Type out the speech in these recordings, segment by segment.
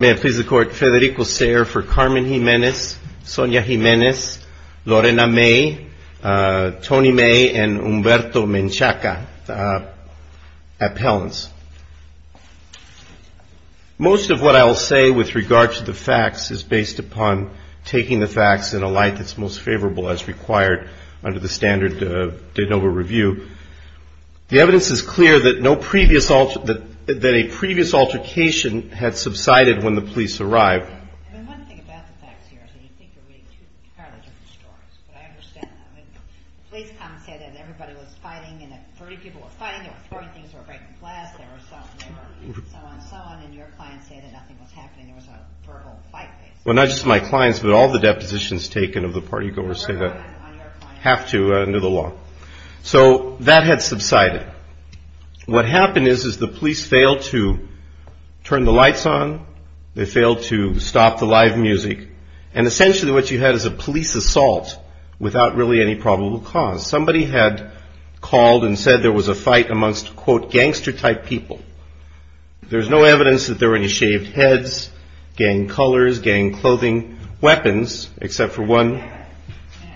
May it please the Court, Federico Sayre for Carmen Jimenez, Sonia Jimenez, Lorena May, Tony May, and Humberto Menchaca, appellants. Most of what I will say with regard to the facts is based upon taking the facts in a light that's most favorable as required under the standard de novo review. The evidence is clear that a previous altercation had subsided when the police arrived. Well, not just my clients, but all the depositions taken of the party goers have to under the law. So that had subsided. What happened is the police failed to turn the lights on. They failed to stop the live music. And essentially what you had is a police assault without really any probable cause. Somebody had called and said there was a fight amongst, quote, gangster-type people. There's no evidence that there were any shaved heads, gang colors, gang clothing, weapons, except for one.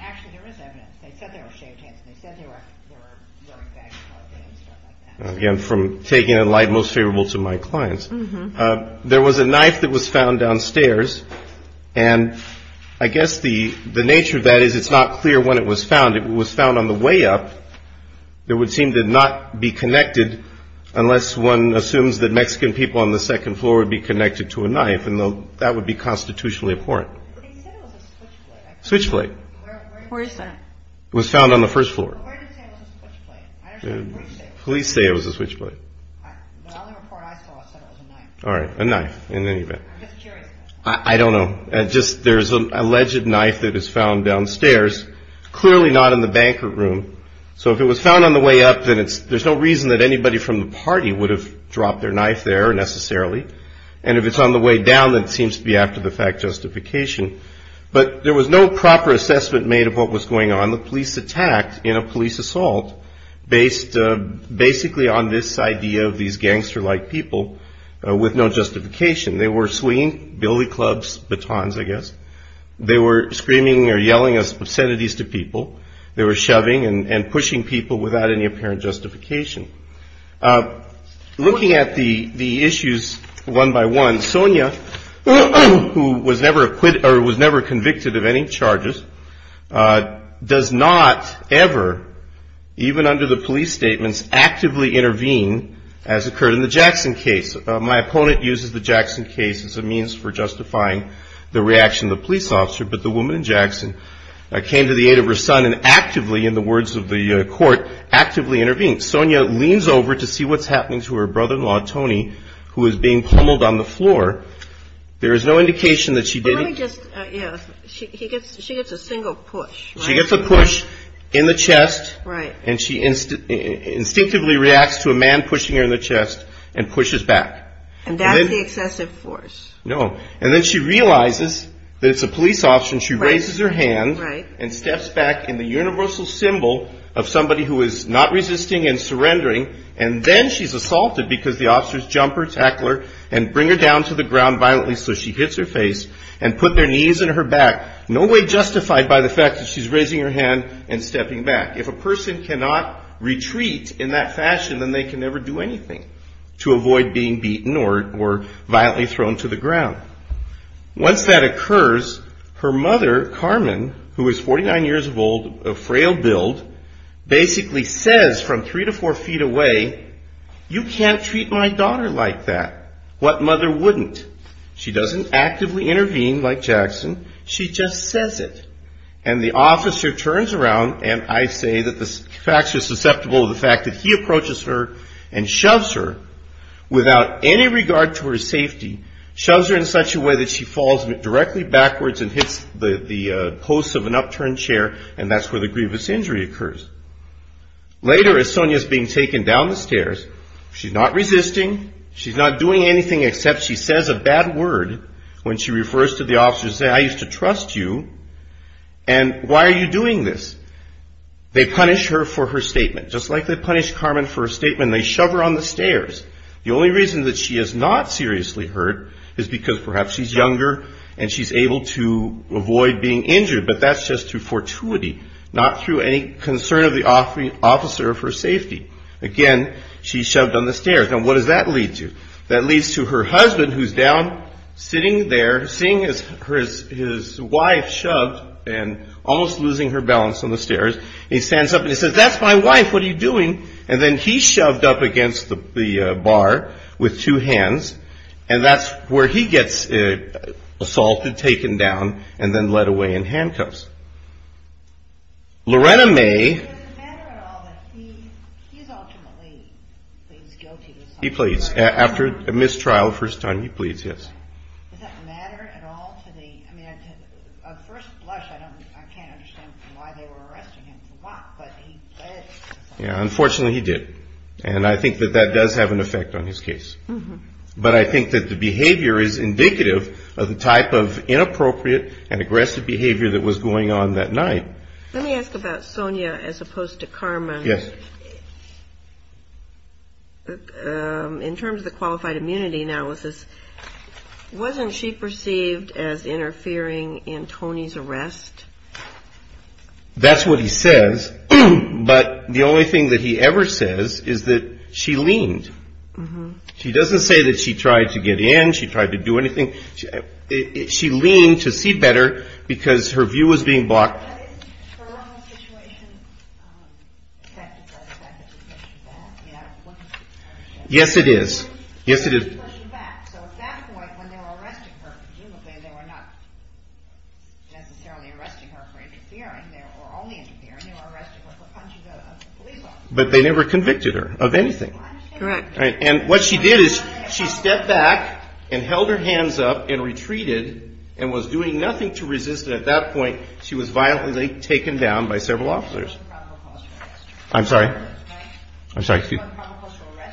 Actually, there is evidence. They said there were shaved heads and they said there were gang clothing and stuff like that. Again, from taking it in light most favorable to my clients. There was a knife that was found downstairs. And I guess the nature of that is it's not clear when it was found. It was found on the way up. It would seem to not be connected unless one assumes that Mexican people on the second floor would be connected to a knife, and that would be constitutionally abhorrent. They said it was a switchblade. Switchblade. Where is that? It was found on the first floor. Well, where did it say it was a switchblade? Police say it was a switchblade. The only report I saw said it was a knife. All right. A knife in any event. I'm just curious. I don't know. Just there's an alleged knife that is found downstairs. Clearly not in the banquet room. So if it was found on the way up, then there's no reason that anybody from the party would have dropped their knife there necessarily. And if it's on the way down, then it seems to be after the fact justification. But there was no proper assessment made of what was going on. The police attacked in a police assault based basically on this idea of these gangster-like people with no justification. They were swinging billy clubs, batons, I guess. They were screaming or yelling obscenities to people. They were shoving and pushing people without any apparent justification. Looking at the issues one by one, Sonia, who was never convicted of any charges, does not ever, even under the police statements, actively intervene as occurred in the Jackson case. My opponent uses the Jackson case as a means for justifying the reaction of the police officer. But the woman in Jackson came to the aid of her son and actively, in the words of the court, actively intervened. Sonia leans over to see what's happening to her brother-in-law, Tony, who is being pummeled on the floor. There is no indication that she did it. But let me just, yeah, she gets a single push. She gets a push in the chest. Right. And she instinctively reacts to a man pushing her in the chest and pushes back. And that's the excessive force. No. And then she realizes that it's a police officer and she raises her hand. Right. And steps back in the universal symbol of somebody who is not resisting and surrendering. And then she's assaulted because the officers jump her, tackle her, and bring her down to the ground violently so she hits her face and put their knees in her back. No way justified by the fact that she's raising her hand and stepping back. If a person cannot retreat in that fashion, then they can never do anything to avoid being beaten or violently thrown to the ground. Once that occurs, her mother, Carmen, who is 49 years old, a frail build, basically says from three to four feet away, you can't treat my daughter like that. What mother wouldn't? She doesn't actively intervene like Jackson. She just says it. And the officer turns around and I say that the fact she's susceptible to the fact that he approaches her and shoves her without any regard to her safety, shoves her in such a way that she falls directly backwards and hits the post of an upturned chair, and that's where the grievous injury occurs. Later, as Sonia is being taken down the stairs, she's not resisting. She's not doing anything except she says a bad word when she refers to the officer and says, I used to trust you. And why are you doing this? They punish her for her statement, just like they punished Carmen for her statement. They shove her on the stairs. The only reason that she is not seriously hurt is because perhaps she's younger and she's able to avoid being injured, but that's just through fortuity, not through any concern of the officer for safety. Again, she's shoved on the stairs. Now, what does that lead to? That leads to her husband, who's down sitting there, seeing his wife shoved and almost losing her balance on the stairs. He stands up and he says, that's my wife. What are you doing? And then he's shoved up against the bar with two hands, and that's where he gets assaulted, taken down, and then led away in handcuffs. Lorena May. He pleads. After a mistrial, first time he pleads, yes. Unfortunately, he did. And I think that that does have an effect on his case. But I think that the behavior is indicative of the type of inappropriate and aggressive behavior that was going on that night. Let me ask about Sonia as opposed to Carmen. Yes. In terms of the qualified immunity analysis, wasn't she perceived as interfering in Tony's arrest? That's what he says. But the only thing that he ever says is that she leaned. She doesn't say that she tried to get in, she tried to do anything. She leaned to see better because her view was being blocked. Yes, it is. But they never convicted her of anything. And what she did is she stepped back and held her hands up and retreated and was doing nothing to resist it. At that point, she was violently taken down by several officers. I'm sorry. I'm sorry.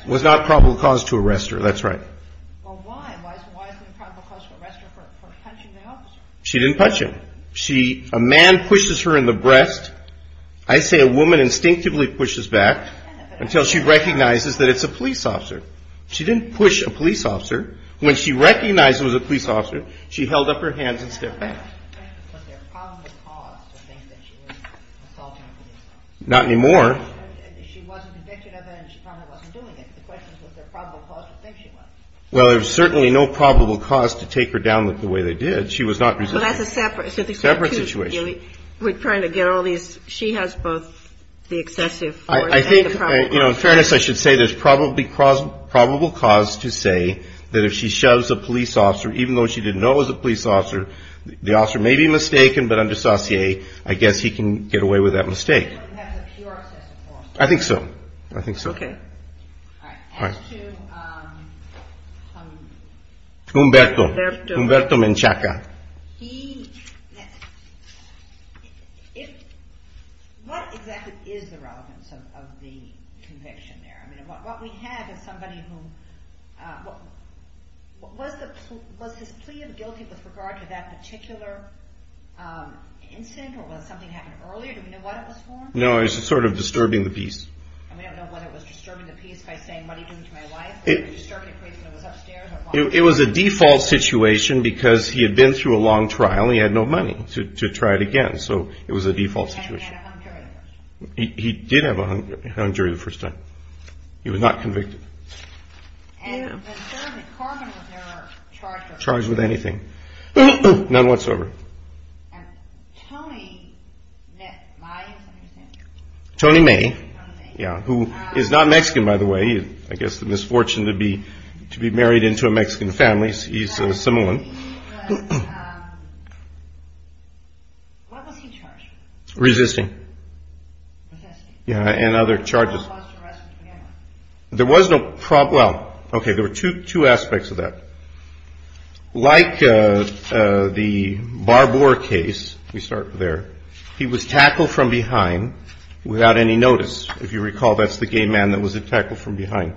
Was not probable cause to arrest her. That's right. She didn't punch him. She, a man pushes her in the breast. I say a woman instinctively pushes back until she recognizes that it's a police officer. She didn't push a police officer. When she recognized it was a police officer, she held up her hands and stepped back. Not anymore. Well, there was certainly no probable cause to take her down the way they did. That's a separate, separate situation. We're trying to get all these. She has both the excessive. I think, you know, in fairness, I should say there's probably probable cause to say that if she shoves a police officer, even though she didn't know it was a police officer, the officer may be mistaken. But under Saucier, I guess he can get away with that mistake. I think so. I think so. As to Umberto, Umberto Menchaca. He, what exactly is the relevance of the conviction there? I mean, what we have is somebody who, what was the, was his plea of guilty with regard to that particular incident or was something happened earlier? Do we know what it was for? It was a default situation because he had been through a long trial and he had no money to try it again. So it was a default situation. He did have a hung jury the first time. He was not convicted. Charged with anything. None whatsoever. Tony May. Yeah. Who is not Mexican, by the way. I guess the misfortune to be to be married into a Mexican family. He's a similar one. Resisting. Yeah. And other charges. There was no problem. Okay. There were two aspects of that. Like the Barbour case, we start there. He was tackled from behind without any notice. If you recall, that's the gay man that was tackled from behind.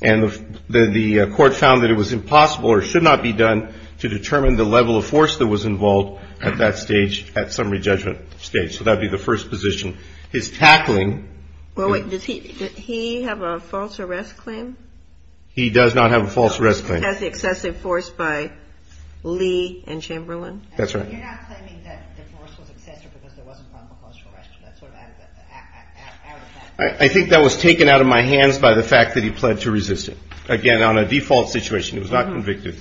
And the court found that it was impossible or should not be done to determine the level of force that was involved at that stage, at summary judgment stage. So that would be the first position. His tackling. Well, wait, does he have a false arrest claim? He does not have a false arrest claim. He has the excessive force by Lee and Chamberlain. That's right. I think that was taken out of my hands by the fact that he pled to resist it again on a default situation. It was not convicted.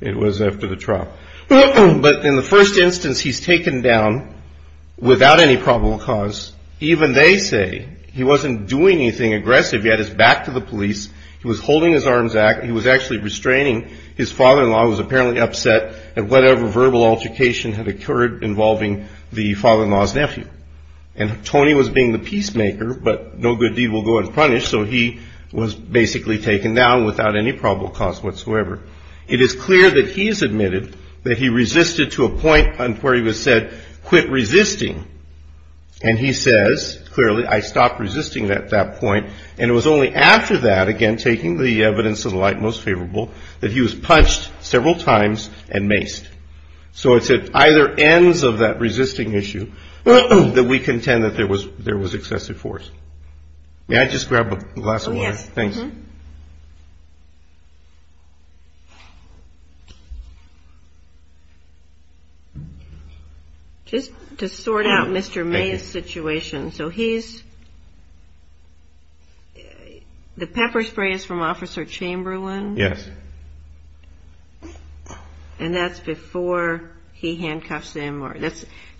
It was after the trial. But in the first instance, he's taken down without any probable cause. Even they say he wasn't doing anything aggressive. He had his back to the police. He was holding his arms. He was actually restraining his father-in-law, who was apparently upset at whatever verbal altercation had occurred involving the father-in-law's nephew. And Tony was being the peacemaker, but no good deed will go unpunished. So he was basically taken down without any probable cause whatsoever. It is clear that he has admitted that he resisted to a point where he was said, quit resisting. And he says, clearly, I stopped resisting at that point. And it was only after that, again, taking the evidence to the light most favorable, that he was punched several times and maced. So it's at either ends of that resisting issue that we contend that there was excessive force. May I just grab a glass of water? Oh, yes. Thanks. Just to sort out Mr. May's situation. So he's the pepper spray is from Officer Chamberlain? Yes. And that's before he handcuffs him?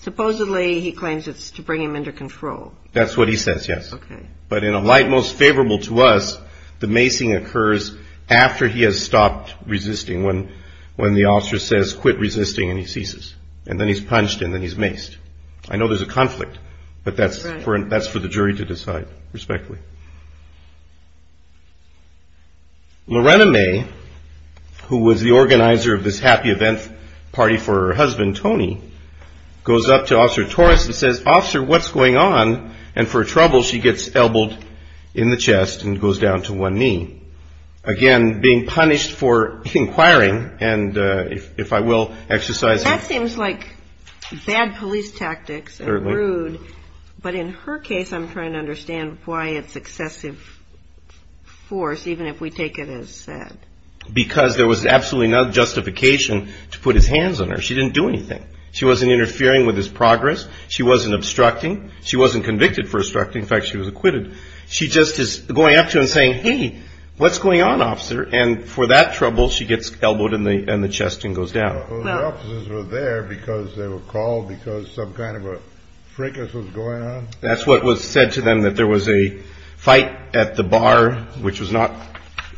Supposedly he claims it's to bring him under control. That's what he says, yes. Okay. But in a light most favorable to us, the macing occurs after he has stopped resisting, when the officer says, quit resisting, and he ceases. And then he's punched, and then he's maced. I know there's a conflict, but that's for the jury to decide, respectively. Lorena May, who was the organizer of this happy event party for her husband, Tony, goes up to Officer Torres and says, Officer, what's going on? And for trouble, she gets elbowed in the chest and goes down to one knee. Again, being punished for inquiring, and if I will, exercising. That seems like bad police tactics and rude, but in her case, I'm trying to understand why it's excessive force, even if we take it as said. Because there was absolutely no justification to put his hands on her. She didn't do anything. She wasn't interfering with his progress. She wasn't obstructing. She wasn't convicted for obstructing. In fact, she was acquitted. She just is going up to him and saying, hey, what's going on, Officer? And for that trouble, she gets elbowed in the chest and goes down. Well, the officers were there because they were called because some kind of a fricass was going on? That's what was said to them, that there was a fight at the bar, which was not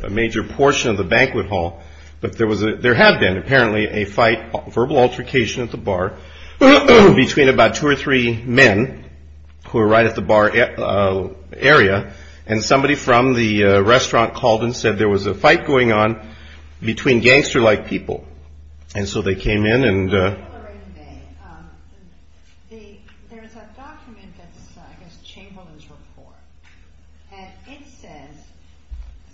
a major portion of the banquet hall. But there had been, apparently, a fight, verbal altercation at the bar, between about two or three men who were right at the bar area, and somebody from the restaurant called and said there was a fight going on between gangster-like people. And so they came in. There's a document that's, I guess, Chamberlain's report, and it says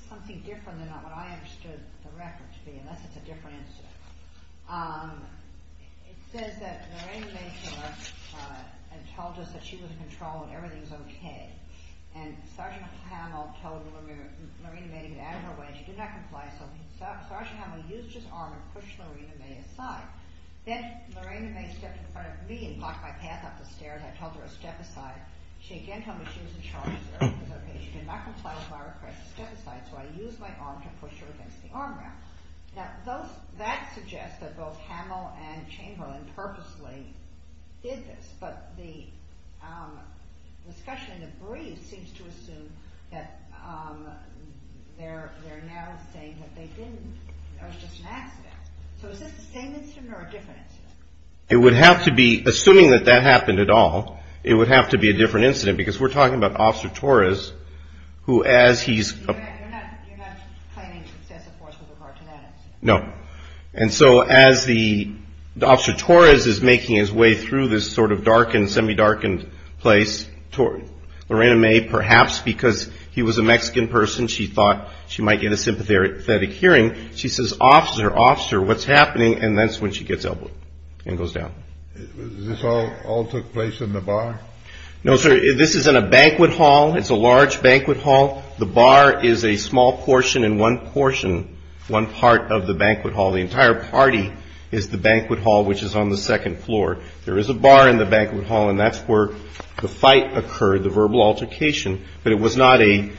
something different than what I understood the record to be, unless it's a different incident. It says that Lorena May came up and told us that she was in control and everything was okay. And Sergeant Hamill told Lorena May to get out of her way. She did not comply, so Sergeant Hamill used his arm and pushed Lorena May aside. Then Lorena May stepped in front of me and blocked my path up the stairs. I told her to step aside. She again told me she was in charge. She said, okay, she did not comply with my request. Step aside. So I used my arm to push her against the arm rail. Now, that suggests that both Hamill and Chamberlain purposely did this, but the discussion in the brief seems to assume that they're now saying that they didn't, that it was just an accident. So is this the same incident or a different incident? It would have to be, assuming that that happened at all, it would have to be a different incident, because we're talking about Officer Torres, who as he's... You're not claiming excessive force with regard to that incident? No. And so as the Officer Torres is making his way through this sort of darkened, semi-darkened place, Lorena May, perhaps because he was a Mexican person, she thought she might get a sympathetic hearing, she says, Officer, Officer, what's happening? And that's when she gets elbowed and goes down. This all took place in the bar? No, sir. This is in a banquet hall. It's a large banquet hall. The bar is a small portion in one portion, one part of the banquet hall. The entire party is the banquet hall, which is on the second floor. There is a bar in the banquet hall, and that's where the fight occurred, the verbal altercation. But it was not a,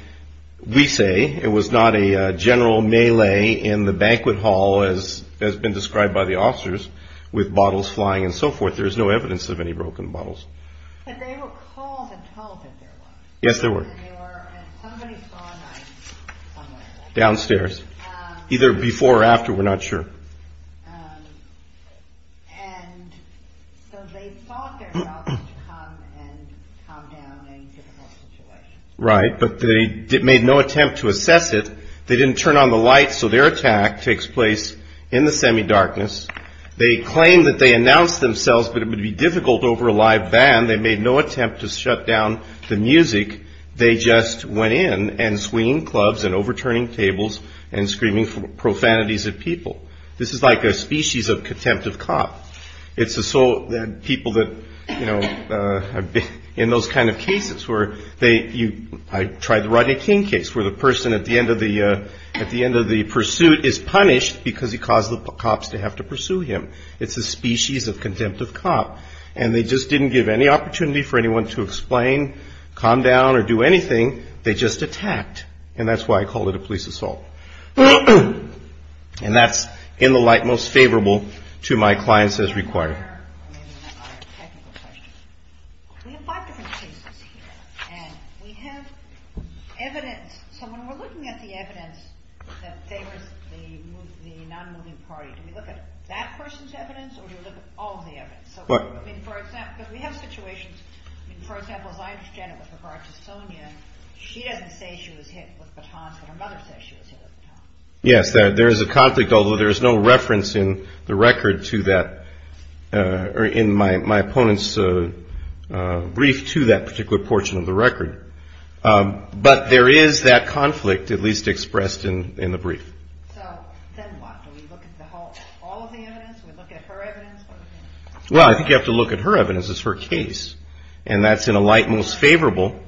we say, it was not a general melee in the banquet hall, as has been described by the officers, with bottles flying and so forth. There is no evidence of any broken bottles. But they were called and told that there was. Yes, there were. And somebody saw a knife somewhere. Downstairs. Either before or after, we're not sure. And so they thought themselves to come and calm down a difficult situation. Right, but they made no attempt to assess it. They didn't turn on the lights, so their attack takes place in the semi-darkness. They claim that they announced themselves that it would be difficult over a live band. They made no attempt to shut down the music. They just went in and swinging clubs and overturning tables and screaming profanities at people. This is like a species of contempt of cop. It's assault, people that, you know, in those kind of cases where they, I tried the Rodney King case, where the person at the end of the pursuit is punished because he caused the cops to have to pursue him. It's a species of contempt of cop. And they just didn't give any opportunity for anyone to explain, calm down, or do anything. They just attacked. And that's why I call it a police assault. And that's in the light most favorable to my clients as required. We have five different cases here, and we have evidence. So when we're looking at the evidence that favors the non-moving party, do we look at that person's evidence or do we look at all of the evidence? I mean, for example, we have situations, for example, as I understand it with regard to Sonia, she doesn't say she was hit with batons, but her mother says she was hit with batons. Yes, there is a conflict, although there is no reference in the record to that. Or in my opponent's brief to that particular portion of the record. But there is that conflict at least expressed in the brief. So then what? Do we look at all of the evidence? Do we look at her evidence? Well, I think you have to look at her evidence. It's her case. And that's in a light most favorable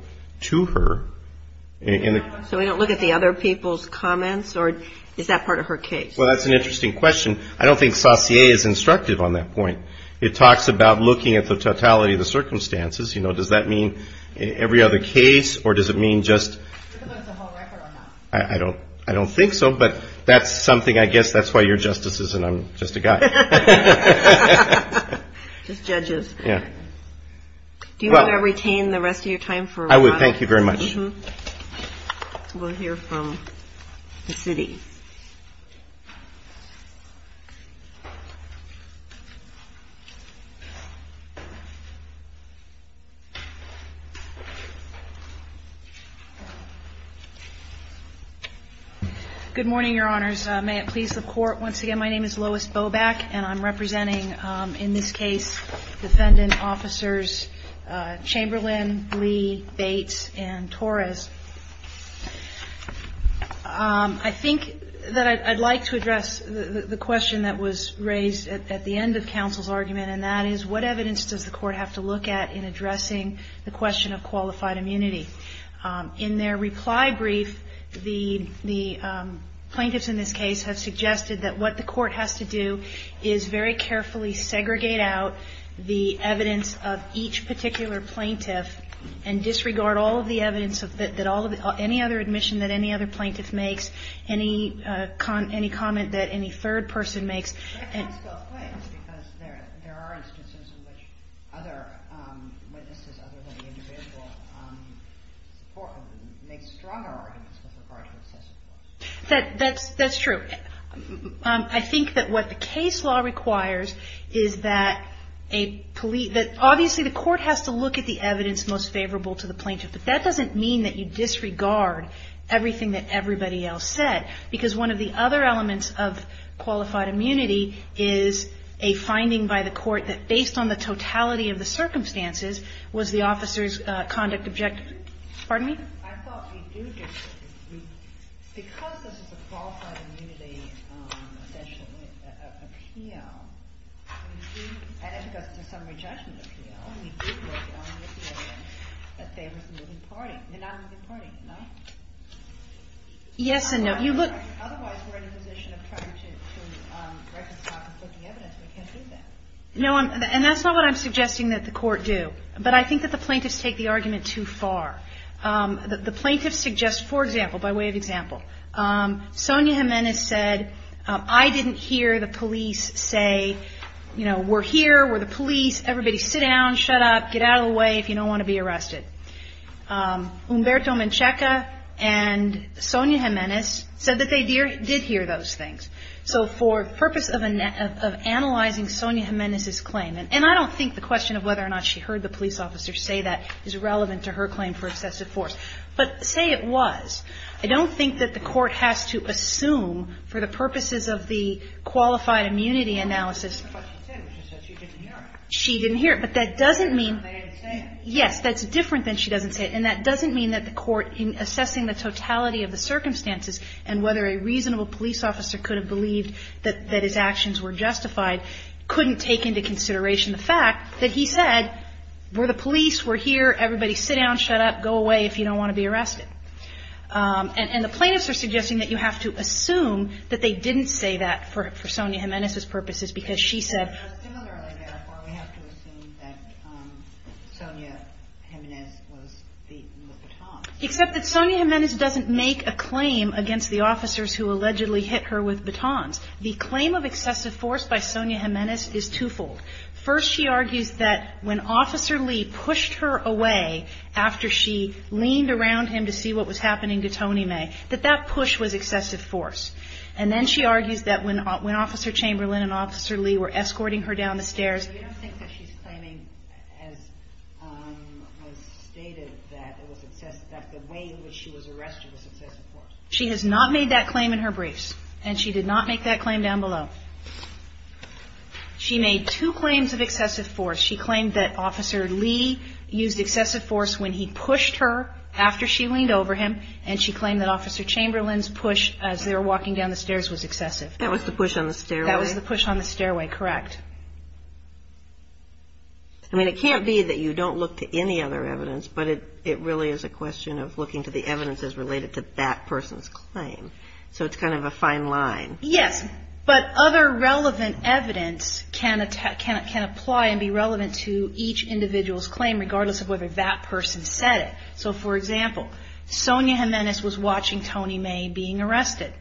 to her. So we don't look at the other people's comments, or is that part of her case? Well, that's an interesting question. I don't think Saussure is instructive on that point. It talks about looking at the totality of the circumstances. You know, does that mean every other case or does it mean just? I don't think so. But that's something I guess that's why you're justices and I'm just a guy. Just judges. Yeah. Do you want to retain the rest of your time? I would. Thank you very much. We'll hear from the city. Good morning, Your Honors. May it please the Court. Once again, my name is Lois Boback, and I'm representing in this case defendant officers Chamberlain, Lee, Bates, and Torres. I think that I'd like to address the question that was raised at the end of counsel's argument, and that is what evidence does the court have to look at in addressing the question of qualified immunity? In their reply brief, the plaintiffs in this case have suggested that what the court has to do is very carefully segregate out the evidence of each particular plaintiff and disregard all of the evidence that any other admission that any other plaintiff makes, any comment that any third person makes. I can't spell claims because there are instances in which other witnesses other than the individual make stronger arguments with regard to excessive force. That's true. I think that what the case law requires is that obviously the court has to look at the evidence most favorable to the plaintiff, but that doesn't mean that you disregard everything that everybody else said, because one of the other elements of qualified immunity is a finding by the court that, based on the totality of the circumstances, was the officer's conduct objective. Pardon me? I thought we do disagree. Because this is a qualified immunity, essentially, appeal, and if it goes to summary judgment appeal, we do agree on the opinion that there was a moving party. They're not a moving party, no? Yes and no. Otherwise, we're in a position of trying to reconcile conflicting evidence. We can't do that. No, and that's not what I'm suggesting that the court do. But I think that the plaintiffs take the argument too far. The plaintiffs suggest, for example, by way of example, Sonia Jimenez said, I didn't hear the police say, you know, we're here, we're the police, everybody sit down, shut up, get out of the way if you don't want to be arrested. Umberto Menchaca and Sonia Jimenez said that they did hear those things. So for the purpose of analyzing Sonia Jimenez's claim, and I don't think the question of whether or not she heard the police officer say that is relevant to her claim for excessive force. But say it was. I don't think that the court has to assume for the purposes of the qualified immunity analysis. She didn't hear it. But that doesn't mean. Yes, that's different than she doesn't say it. And that doesn't mean that the court, in assessing the totality of the circumstances and whether a reasonable police officer could have believed that his actions were the police, we're here, everybody sit down, shut up, go away if you don't want to be arrested. And the plaintiffs are suggesting that you have to assume that they didn't say that for Sonia Jimenez's purposes because she said. But similarly, therefore, we have to assume that Sonia Jimenez was beaten with batons. Except that Sonia Jimenez doesn't make a claim against the officers who allegedly hit her with batons. The claim of excessive force by Sonia Jimenez is twofold. First, she argues that when Officer Lee pushed her away after she leaned around him to see what was happening to Tony May, that that push was excessive force. And then she argues that when Officer Chamberlain and Officer Lee were escorting her down the stairs. You don't think that she's claiming as was stated that the way in which she was arrested was excessive force? She has not made that claim in her briefs. And she did not make that claim down below. She made two claims of excessive force. She claimed that Officer Lee used excessive force when he pushed her after she leaned over him. And she claimed that Officer Chamberlain's push as they were walking down the stairs was excessive. That was the push on the stairway? That was the push on the stairway, correct. I mean, it can't be that you don't look to any other evidence, but it really is a question of looking to the evidences related to that person's claim. So it's kind of a fine line. Yes, but other relevant evidence can apply and be relevant to each individual's claim, regardless of whether that person said it. So, for example, Sonia Jimenez was watching Tony May being arrested.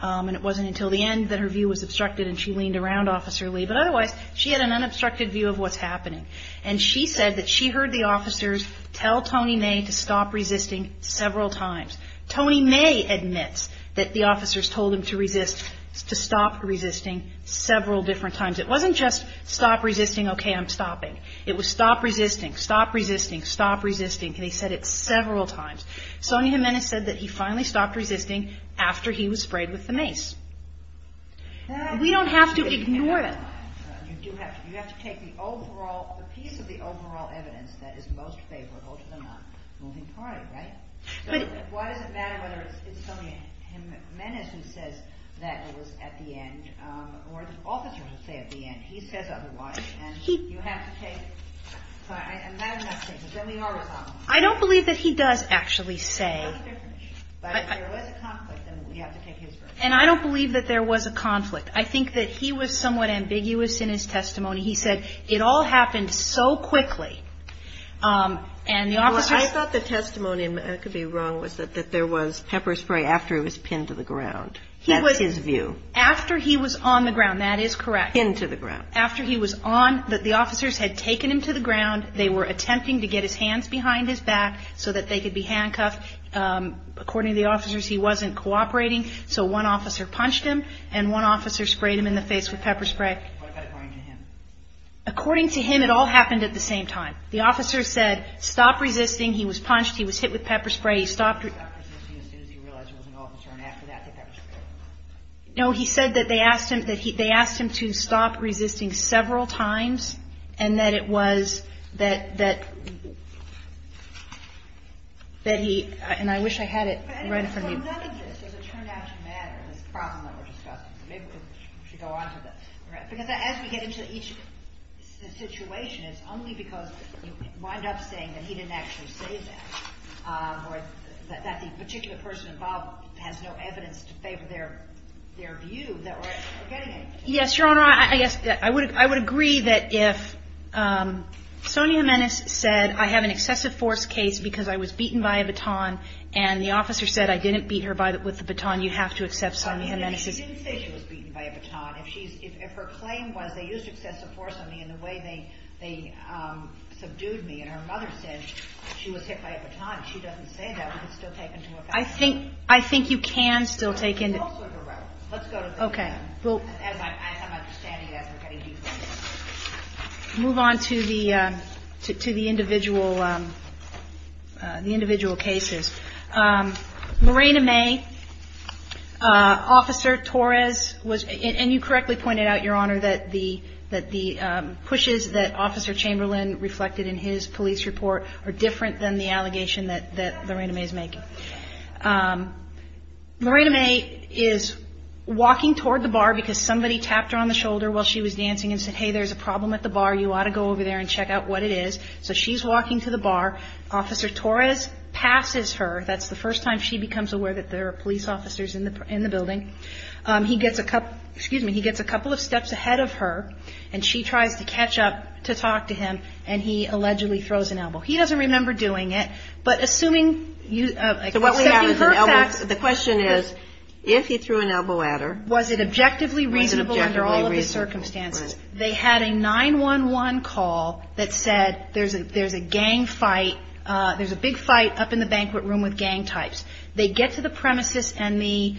And it wasn't until the end that her view was obstructed, and she leaned around Officer Lee. But otherwise, she had an unobstructed view of what's happening. And she said that she heard the officers tell Tony May to stop resisting several times. Tony May admits that the officers told him to resist, to stop resisting, several different times. It wasn't just stop resisting, okay, I'm stopping. It was stop resisting, stop resisting, stop resisting. And he said it several times. Sonia Jimenez said that he finally stopped resisting after he was sprayed with the mace. We don't have to ignore them. You do have to. You have to take the overall, the piece of the overall evidence that is most favorable to the moving party, right? So why does it matter whether it's Sonia Jimenez who says that it was at the end, or the officers who say at the end? He says otherwise, and you have to take it. And that is my statement. Then we are responsible. I don't believe that he does actually say. But if there was a conflict, then we have to take his version. And I don't believe that there was a conflict. I think that he was somewhat ambiguous in his testimony. He said, it all happened so quickly. And the officers. I thought the testimony, and I could be wrong, was that there was pepper spray after he was pinned to the ground. That's his view. After he was on the ground, that is correct. Pinned to the ground. After he was on, the officers had taken him to the ground. They were attempting to get his hands behind his back so that they could be handcuffed. According to the officers, he wasn't cooperating. So one officer punched him, and one officer sprayed him in the face with pepper spray. What about according to him? According to him, it all happened at the same time. The officer said, stop resisting. He was punched. He was hit with pepper spray. He stopped resisting as soon as he realized he was an officer. And after that, the pepper spray. No, he said that they asked him to stop resisting several times. And that it was, that he, and I wish I had it right in front of me. Well, none of this is a turned out to matter, this problem that we're discussing. Maybe we should go on to this. Because as we get into each situation, it's only because you wind up saying that he didn't actually say that. Or that the particular person involved has no evidence to favor their view that we're getting anything. Yes, Your Honor, I guess I would agree that if Sonia Jimenez said, I have an excessive force case because I was beaten by a baton, and the officer said I didn't beat her with the baton, you have to accept Sonia Jimenez's case. She didn't say she was beaten by a baton. If her claim was they used excessive force on me in the way they subdued me, and her mother said she was hit by a baton, she doesn't say that, but it's still taken to a fact. I think you can still take into account. Let's go to the next one. As I'm understanding it, as we're getting deeper into this. Move on to the individual cases. Lorena May, Officer Torres, and you correctly pointed out, Your Honor, that the pushes that Officer Chamberlain reflected in his police report are different than the allegation that Lorena May is making. Lorena May is walking toward the bar because somebody tapped her on the shoulder while she was dancing and said, hey, there's a problem at the bar, you ought to go over there and check out what it is. So she's walking to the bar. Officer Torres passes her. That's the first time she becomes aware that there are police officers in the building. He gets a couple of steps ahead of her, and she tries to catch up to talk to him, and he allegedly throws an elbow. He doesn't remember doing it, but assuming you accepting her facts. The question is, if he threw an elbow at her. Was it objectively reasonable under all of the circumstances? They had a 911 call that said there's a gang fight. There's a big fight up in the banquet room with gang types. They get to the premises, and the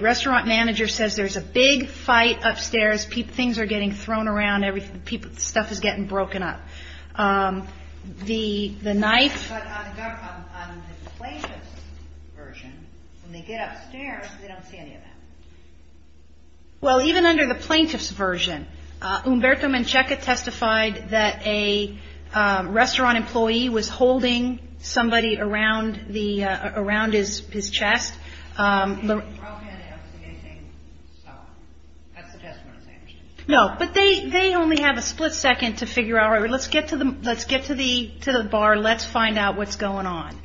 restaurant manager says there's a big fight upstairs. Things are getting thrown around. Stuff is getting broken up. But on the plaintiff's version, when they get upstairs, they don't see any of that. Well, even under the plaintiff's version, Humberto Mancheca testified that a restaurant employee was holding somebody around his chest. He didn't throw anything. That's the testimony I'm saying. No, but they only have a split second to figure out. Let's get to the bar. Let's find out what's going on.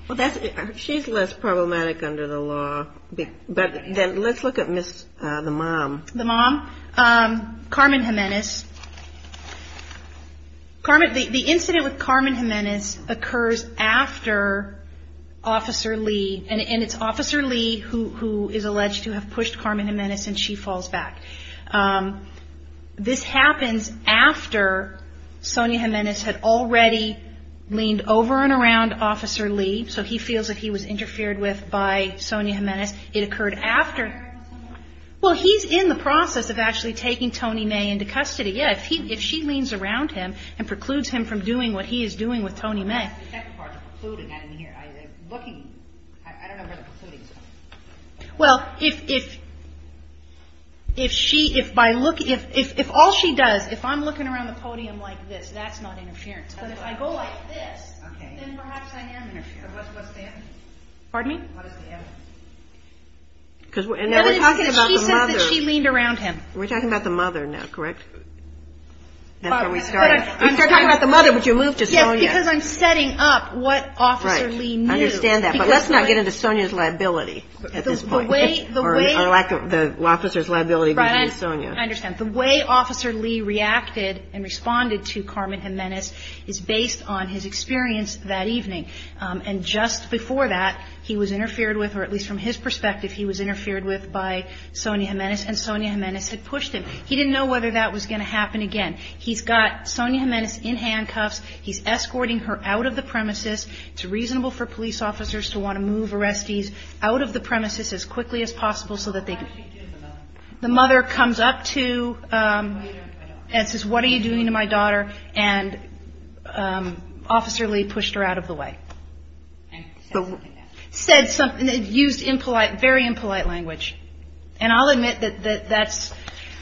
She's less problematic under the law. Let's look at the mom. The mom, Carmen Jimenez. The incident with Carmen Jimenez occurs after Officer Lee, and it's Officer Lee who is alleged to have pushed Carmen Jimenez, and she falls back. This happens after Sonia Jimenez had already leaned over and around Officer Lee, so he feels that he was interfered with by Sonia Jimenez. It occurred after. Well, he's in the process of actually taking Tony May into custody. Yeah, if she leans around him and precludes him from doing what he is doing with Tony May. The second part, the precluding. I don't know where the precluding is. Well, if all she does, if I'm looking around the podium like this, that's not interference. But if I go like this, then perhaps I am interfering. What's the evidence? Pardon me? What is the evidence? She says that she leaned around him. We're talking about the mother now, correct? We're talking about the mother, but you moved to Sonia. Because I'm setting up what Officer Lee knew. I understand that, but let's not get into Sonia's liability at this point, or the officer's liability because of Sonia. I understand. The way Officer Lee reacted and responded to Carmen Jimenez is based on his experience that evening. And just before that, he was interfered with, or at least from his perspective, he was interfered with by Sonia Jimenez, and Sonia Jimenez had pushed him. He didn't know whether that was going to happen again. He's got Sonia Jimenez in handcuffs. He's escorting her out of the premises. It's reasonable for police officers to want to move arrestees out of the premises as quickly as possible so that they can. The mother comes up to and says, what are you doing to my daughter? And Officer Lee pushed her out of the way. Said something that used impolite, very impolite language. And I'll admit that that's,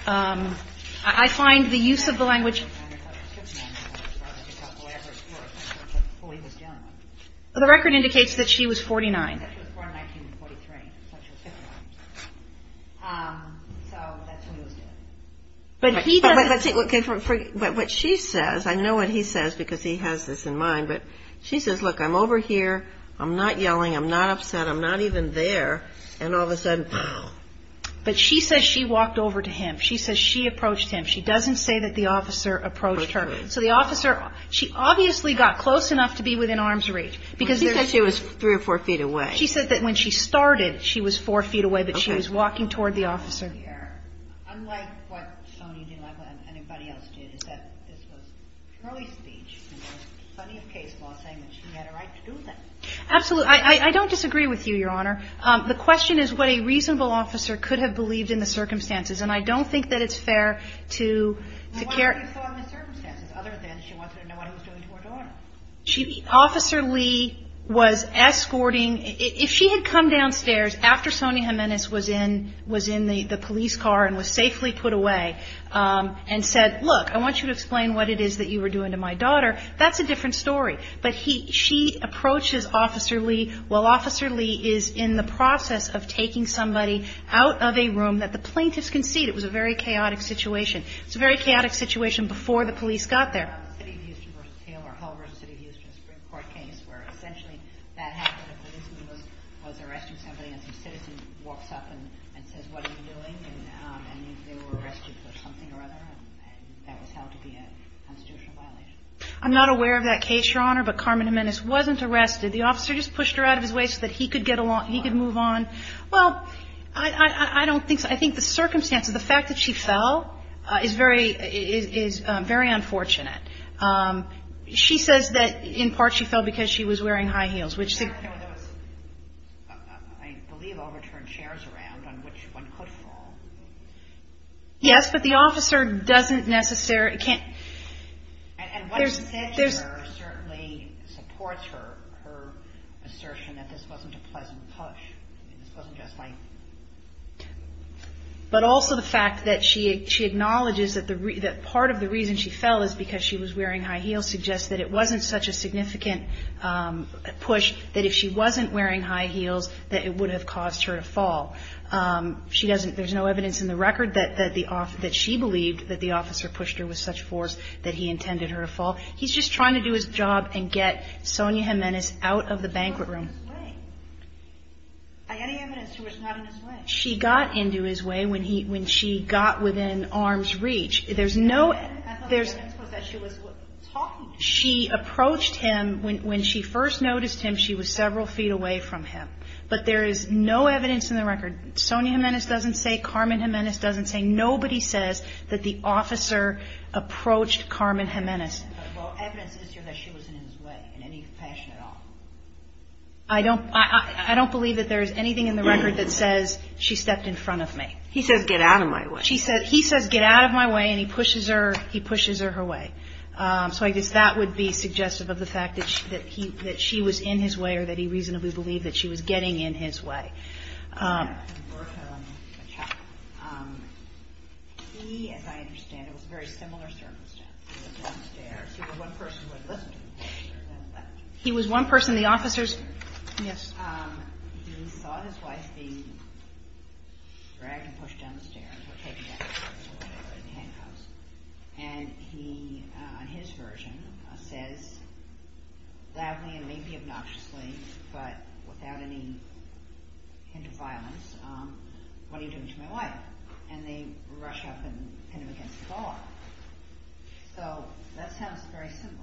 I find the use of the language. The record indicates that she was 49. So that's what he was doing. But he doesn't. But what she says, I know what he says because he has this in mind, but she says, look, I'm over here. I'm not yelling. I'm not upset. I'm not even there. And all of a sudden. But she says she walked over to him. She says she approached him. She doesn't say that the officer approached her. So the officer, she obviously got close enough to be within arm's reach. Because she was three or four feet away. She said that when she started, she was four feet away, but she was walking toward the officer. Absolutely. I don't disagree with you, Your Honor. The question is what a reasonable officer could have believed in the circumstances. And I don't think that it's fair to care. Other than she wanted to know what he was doing to her daughter. Officer Lee was escorting. If she had come downstairs after Sonia Jimenez was in the police car and was safely put away and said, look, I want you to explain what it is that you were doing to my daughter, that's a different story. But she approaches Officer Lee while Officer Lee is in the process of taking somebody out of a room that the plaintiffs can see. It was a very chaotic situation. It's a very chaotic situation before the police got there. I'm not aware of that case, Your Honor, but Carmen Jimenez wasn't arrested. The officer just pushed her out of his way so that he could get along, he could move on. Well, I don't think so. I think the circumstances, the fact that she fell is very unfortunate. She says that in part she fell because she was wearing high heels. Yes, but the officer doesn't necessarily can't. But also the fact that she acknowledges that part of the reason she fell is because she was wearing high heels suggests that it wasn't such a significant push that if she wasn't wearing high heels that it would have caused her to fall. There's no evidence in the record that she believed that the officer pushed her with such force that he intended her to fall. He's just trying to do his job and get Sonia Jimenez out of the banquet room. Any evidence that she was not in his way? She got into his way when she got within arm's reach. She approached him when she first noticed him. She was several feet away from him. But there is no evidence in the record. Sonia Jimenez doesn't say. Carmen Jimenez doesn't say. Nobody says that the officer approached Carmen Jimenez. Well, evidence is that she was in his way in any fashion at all. I don't believe that there is anything in the record that says she stepped in front of me. He says get out of my way. He says get out of my way and he pushes her her way. So I guess that would be suggestive of the fact that she was in his way or that he reasonably believed that she was getting in his way. He, as I understand it, was in a very similar circumstance. He was downstairs. He was one person who had listened to him. He was one person. The officers. Yes. He saw his wife being dragged and pushed down the stairs. And he, on his version, says loudly and maybe obnoxiously, but without any hint of violence, what are you doing to my wife? And they rush up and pin him against the wall. So that sounds very similar.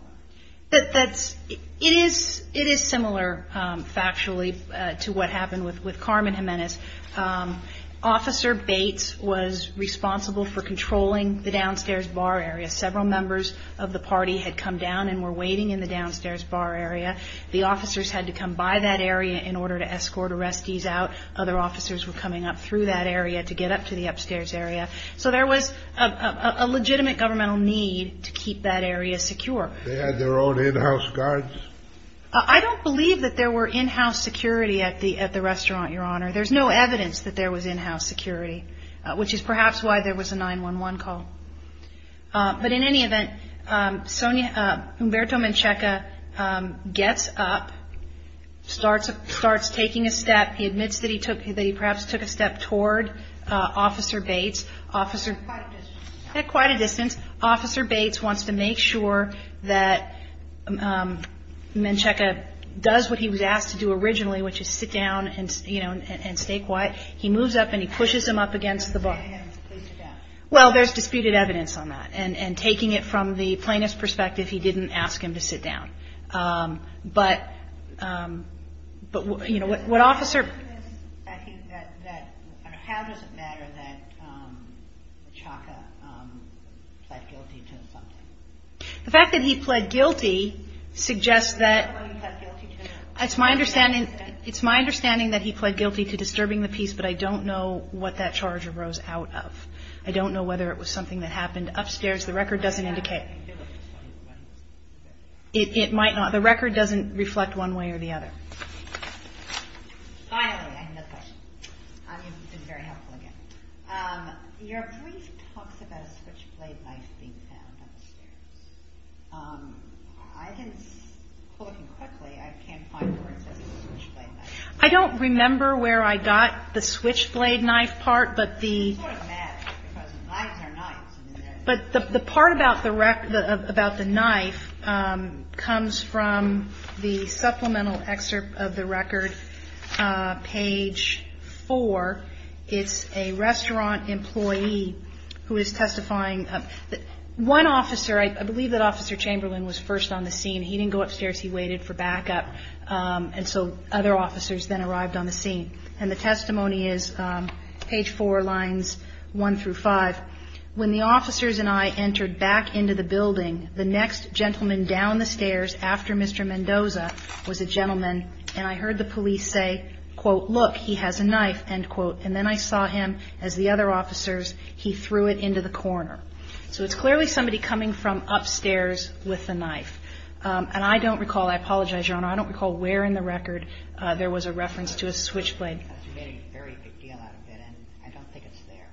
It is similar, factually, to what happened with Carmen Jimenez. Officer Bates was responsible for controlling the downstairs bar area. Several members of the party had come down and were waiting in the downstairs bar area. The officers had to come by that area in order to escort arrestees out. Other officers were coming up through that area to get up to the upstairs area. So there was a legitimate governmental need to keep that area secure. They had their own in-house guards? I don't believe that there were in-house security at the restaurant, Your Honor. There's no evidence that there was in-house security, which is perhaps why there was a 911 call. But in any event, Humberto Menchaca gets up, starts taking a step. He admits that he perhaps took a step toward Officer Bates. At quite a distance. Officer Bates wants to make sure that Menchaca does what he was asked to do originally, which is sit down and stay quiet. He moves up and he pushes him up against the bar. Well, there's disputed evidence on that. And taking it from the plaintiff's perspective, he didn't ask him to sit down. But, you know, what officer... The fact that he pled guilty suggests that... It's my understanding that he pled guilty to disturbing the peace, but I don't know what that charge arose out of. I don't know whether it was something that happened upstairs. The record doesn't indicate. It might not. The record doesn't reflect one way or the other. Finally, I have a question. You've been very helpful again. Your brief talks about a switchblade knife being found upstairs. I didn't... Looking quickly, I can't find where it says switchblade knife. I don't remember where I got the switchblade knife part, but the... It's sort of magic, because knives are knives. But the part about the knife comes from the supplemental excerpt of the record page 4. It's a restaurant employee who is testifying. One officer, I believe that Officer Chamberlain was first on the scene. He didn't go upstairs. He waited for backup. And so other officers then arrived on the scene. And the testimony is page 4, lines 1 through 5. When the officers and I entered back into the building, the next gentleman down the stairs after Mr. Mendoza was a gentleman, and I heard the police say, quote, look, he has a knife, end quote. And then I saw him, as the other officers, he threw it into the corner. So it's clearly somebody coming from upstairs with a knife. And I don't recall, I apologize, Your Honor, I don't recall where in the record there was a reference to a switchblade. That's a very big deal out of it, and I don't think it's there.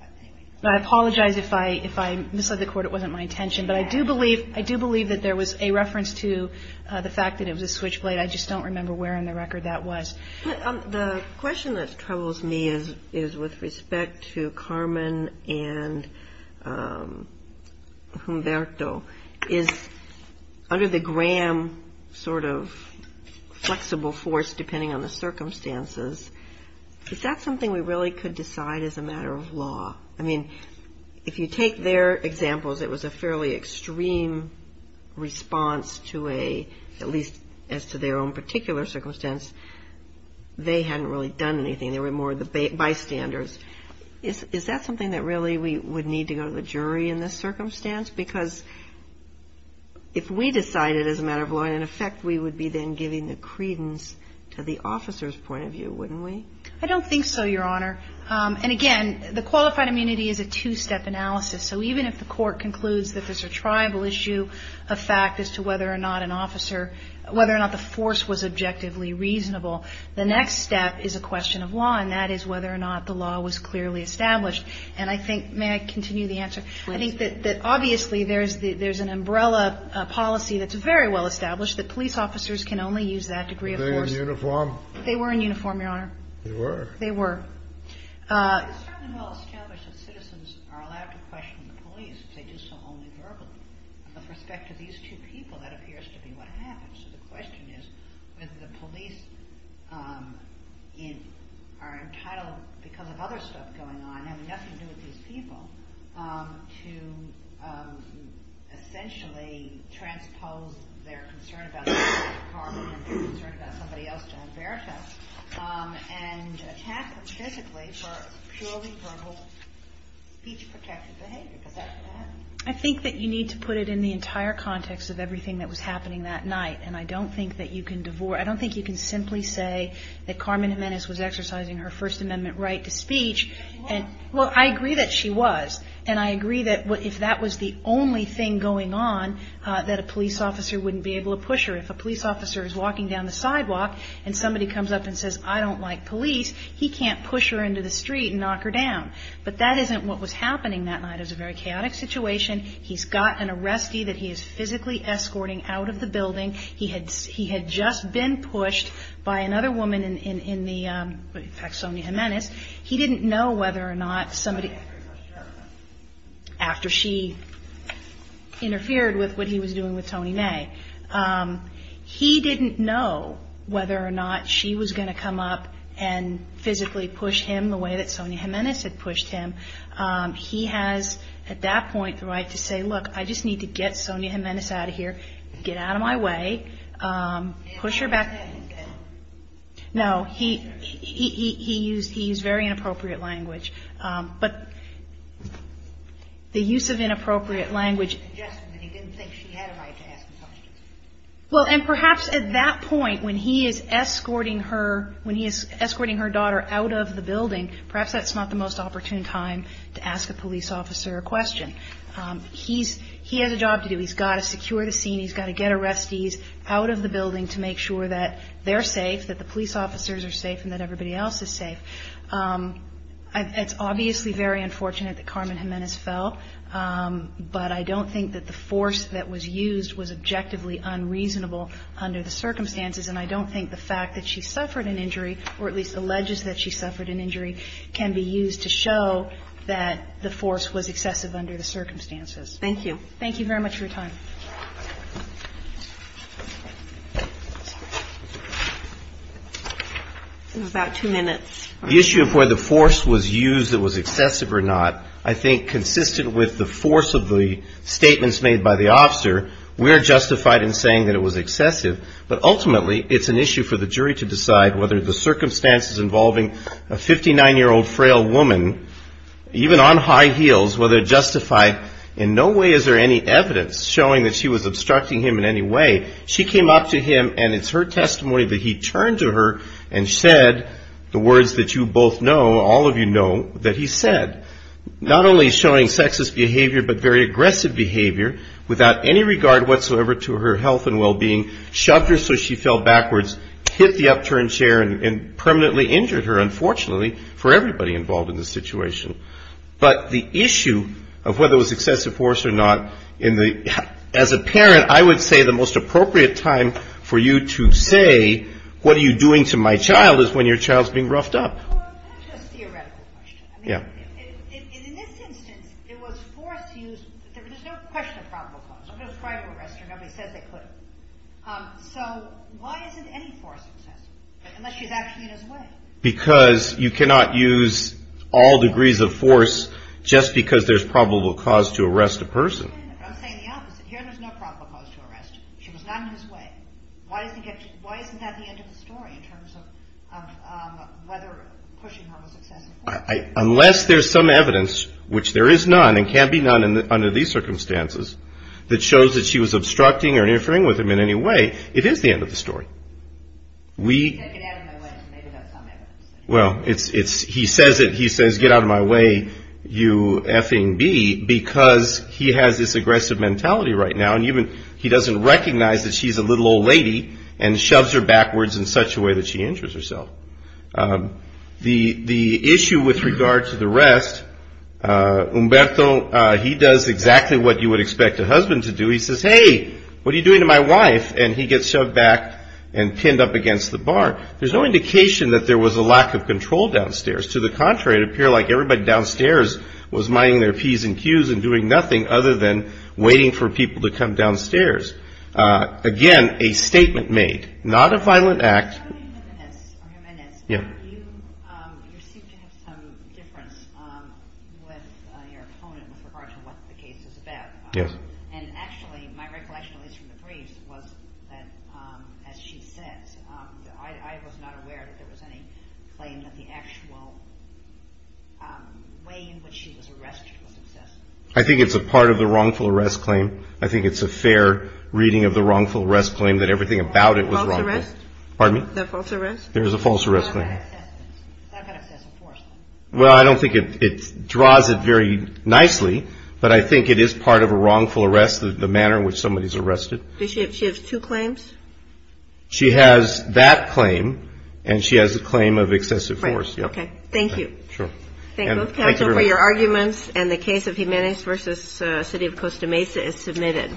But anyway. I apologize if I misled the Court. It wasn't my intention. But I do believe that there was a reference to the fact that it was a switchblade. I just don't remember where in the record that was. The question that troubles me is with respect to Carmen and Humberto. Is under the Graham sort of flexible force, depending on the circumstances, is that something we really could decide as a matter of law? I mean, if you take their examples, it was a fairly extreme response to a, at least as to their own particular circumstance. They hadn't really done anything. They were more the bystanders. Is that something that really we would need to go to the jury in this circumstance? Because if we decided as a matter of law, in effect, we would be then giving the credence to the officer's point of view, wouldn't we? I don't think so, Your Honor. And, again, the qualified immunity is a two-step analysis. So even if the court concludes that there's a tribal issue of fact as to whether or not an officer, whether or not the force was objectively reasonable, the next step is a question of law. And that is whether or not the law was clearly established. And I think, may I continue the answer? I think that obviously there's an umbrella policy that's very well established, that police officers can only use that degree of force. Were they in uniform? They were in uniform, Your Honor. They were? They were. It's certainly well established that citizens are allowed to question the police because they do so only verbally. With respect to these two people, that appears to be what happened. So the question is whether the police are entitled, because of other stuff going on, having nothing to do with these people, to essentially transpose their concern about the Department and their concern about somebody else to Alberta and attack them physically for purely verbal speech-protective behavior. Is that what happened? I think that you need to put it in the entire context of everything that was happening that night. And I don't think that you can divorce, I don't think you can simply say that Carmen Jimenez was exercising her First Amendment right to speech. But she was. Well, I agree that she was. And I agree that if that was the only thing going on, that a police officer wouldn't be able to push her. If a police officer is walking down the sidewalk and somebody comes up and says, I don't like police, he can't push her into the street and knock her down. But that isn't what was happening that night. It was a very chaotic situation. He's got an arrestee that he is physically escorting out of the building. He had just been pushed by another woman in the, in fact, Sonia Jimenez. He didn't know whether or not somebody, after she interfered with what he was doing with Tony May, he didn't know whether or not she was going to come up and physically push him the way that Sonia Jimenez had pushed him. He has at that point the right to say, look, I just need to get Sonia Jimenez out of here. Get out of my way. Push her back. No, he, he, he used, he's very inappropriate language. But the use of inappropriate language. He didn't think she had a right to ask him questions. Well, and perhaps at that point when he is escorting her, when he is escorting her daughter out of the building, perhaps that's not the most opportune time to ask a police officer a question. He's, he has a job to do. He's got to secure the scene. He's got to get arrestees out of the building to make sure that they're safe, that the police officers are safe and that everybody else is safe. It's obviously very unfortunate that Carmen Jimenez fell, but I don't think that the force that was used was objectively unreasonable under the circumstances, and I don't think the fact that she suffered an injury, or at least alleges that she suffered an injury, can be used to show that the force was excessive under the circumstances. Thank you. Thank you very much for your time. About two minutes. The issue of whether the force was used that was excessive or not, I think consistent with the force of the statements made by the officer, we're justified in saying that it was excessive, but ultimately it's an issue for the jury to decide whether the circumstances involving a 59-year-old frail woman, even on high heels, in no way is there any evidence showing that she was obstructing him in any way. She came up to him and it's her testimony that he turned to her and said the words that you both know, all of you know, that he said, not only showing sexist behavior, but very aggressive behavior, without any regard whatsoever to her health and well-being, shoved her so she fell backwards, hit the upturned chair and permanently injured her, unfortunately, for everybody involved in the situation. But the issue of whether it was excessive force or not, as a parent, I would say the most appropriate time for you to say, what are you doing to my child is when your child's being roughed up. That's just a theoretical question. In this instance, it was force used. There's no question of probable cause. I'm going to try to arrest her. Nobody says they could. So why isn't any force excessive, unless she's actually in his way? Because you cannot use all degrees of force just because there's probable cause to arrest a person. I'm saying the opposite. Here there's no probable cause to arrest. She was not in his way. Why isn't that the end of the story in terms of whether pushing her was excessive force? Unless there's some evidence, which there is none and can be none under these circumstances, that shows that she was obstructing or interfering with him in any way, it is the end of the story. He said, get out of my way. He made it up somehow. Well, he says it. He says, get out of my way, you effing bee, because he has this aggressive mentality right now. He doesn't recognize that she's a little old lady and shoves her backwards in such a way that she injures herself. The issue with regard to the rest, Umberto, he does exactly what you would expect a husband to do. He says, hey, what are you doing to my wife? And he gets shoved back and pinned up against the bar. There's no indication that there was a lack of control downstairs. To the contrary, it appeared like everybody downstairs was minding their P's and Q's and doing nothing other than waiting for people to come downstairs. Again, a statement made, not a violent act. I think it's a part of the wrongful arrest claim. I think it's a fair reading of the wrongful arrest claim that everything about it was wrongful. Pardon me? The false arrest? There is a false arrest claim. Well, I don't think it draws it very nicely, but I think it is part of a wrongful arrest, the manner in which somebody is arrested. Does she have two claims? She has that claim, and she has a claim of excessive force. Thank you. Sure. Thank you for your arguments, and the case of Jimenez v. City of Costa Mesa is submitted.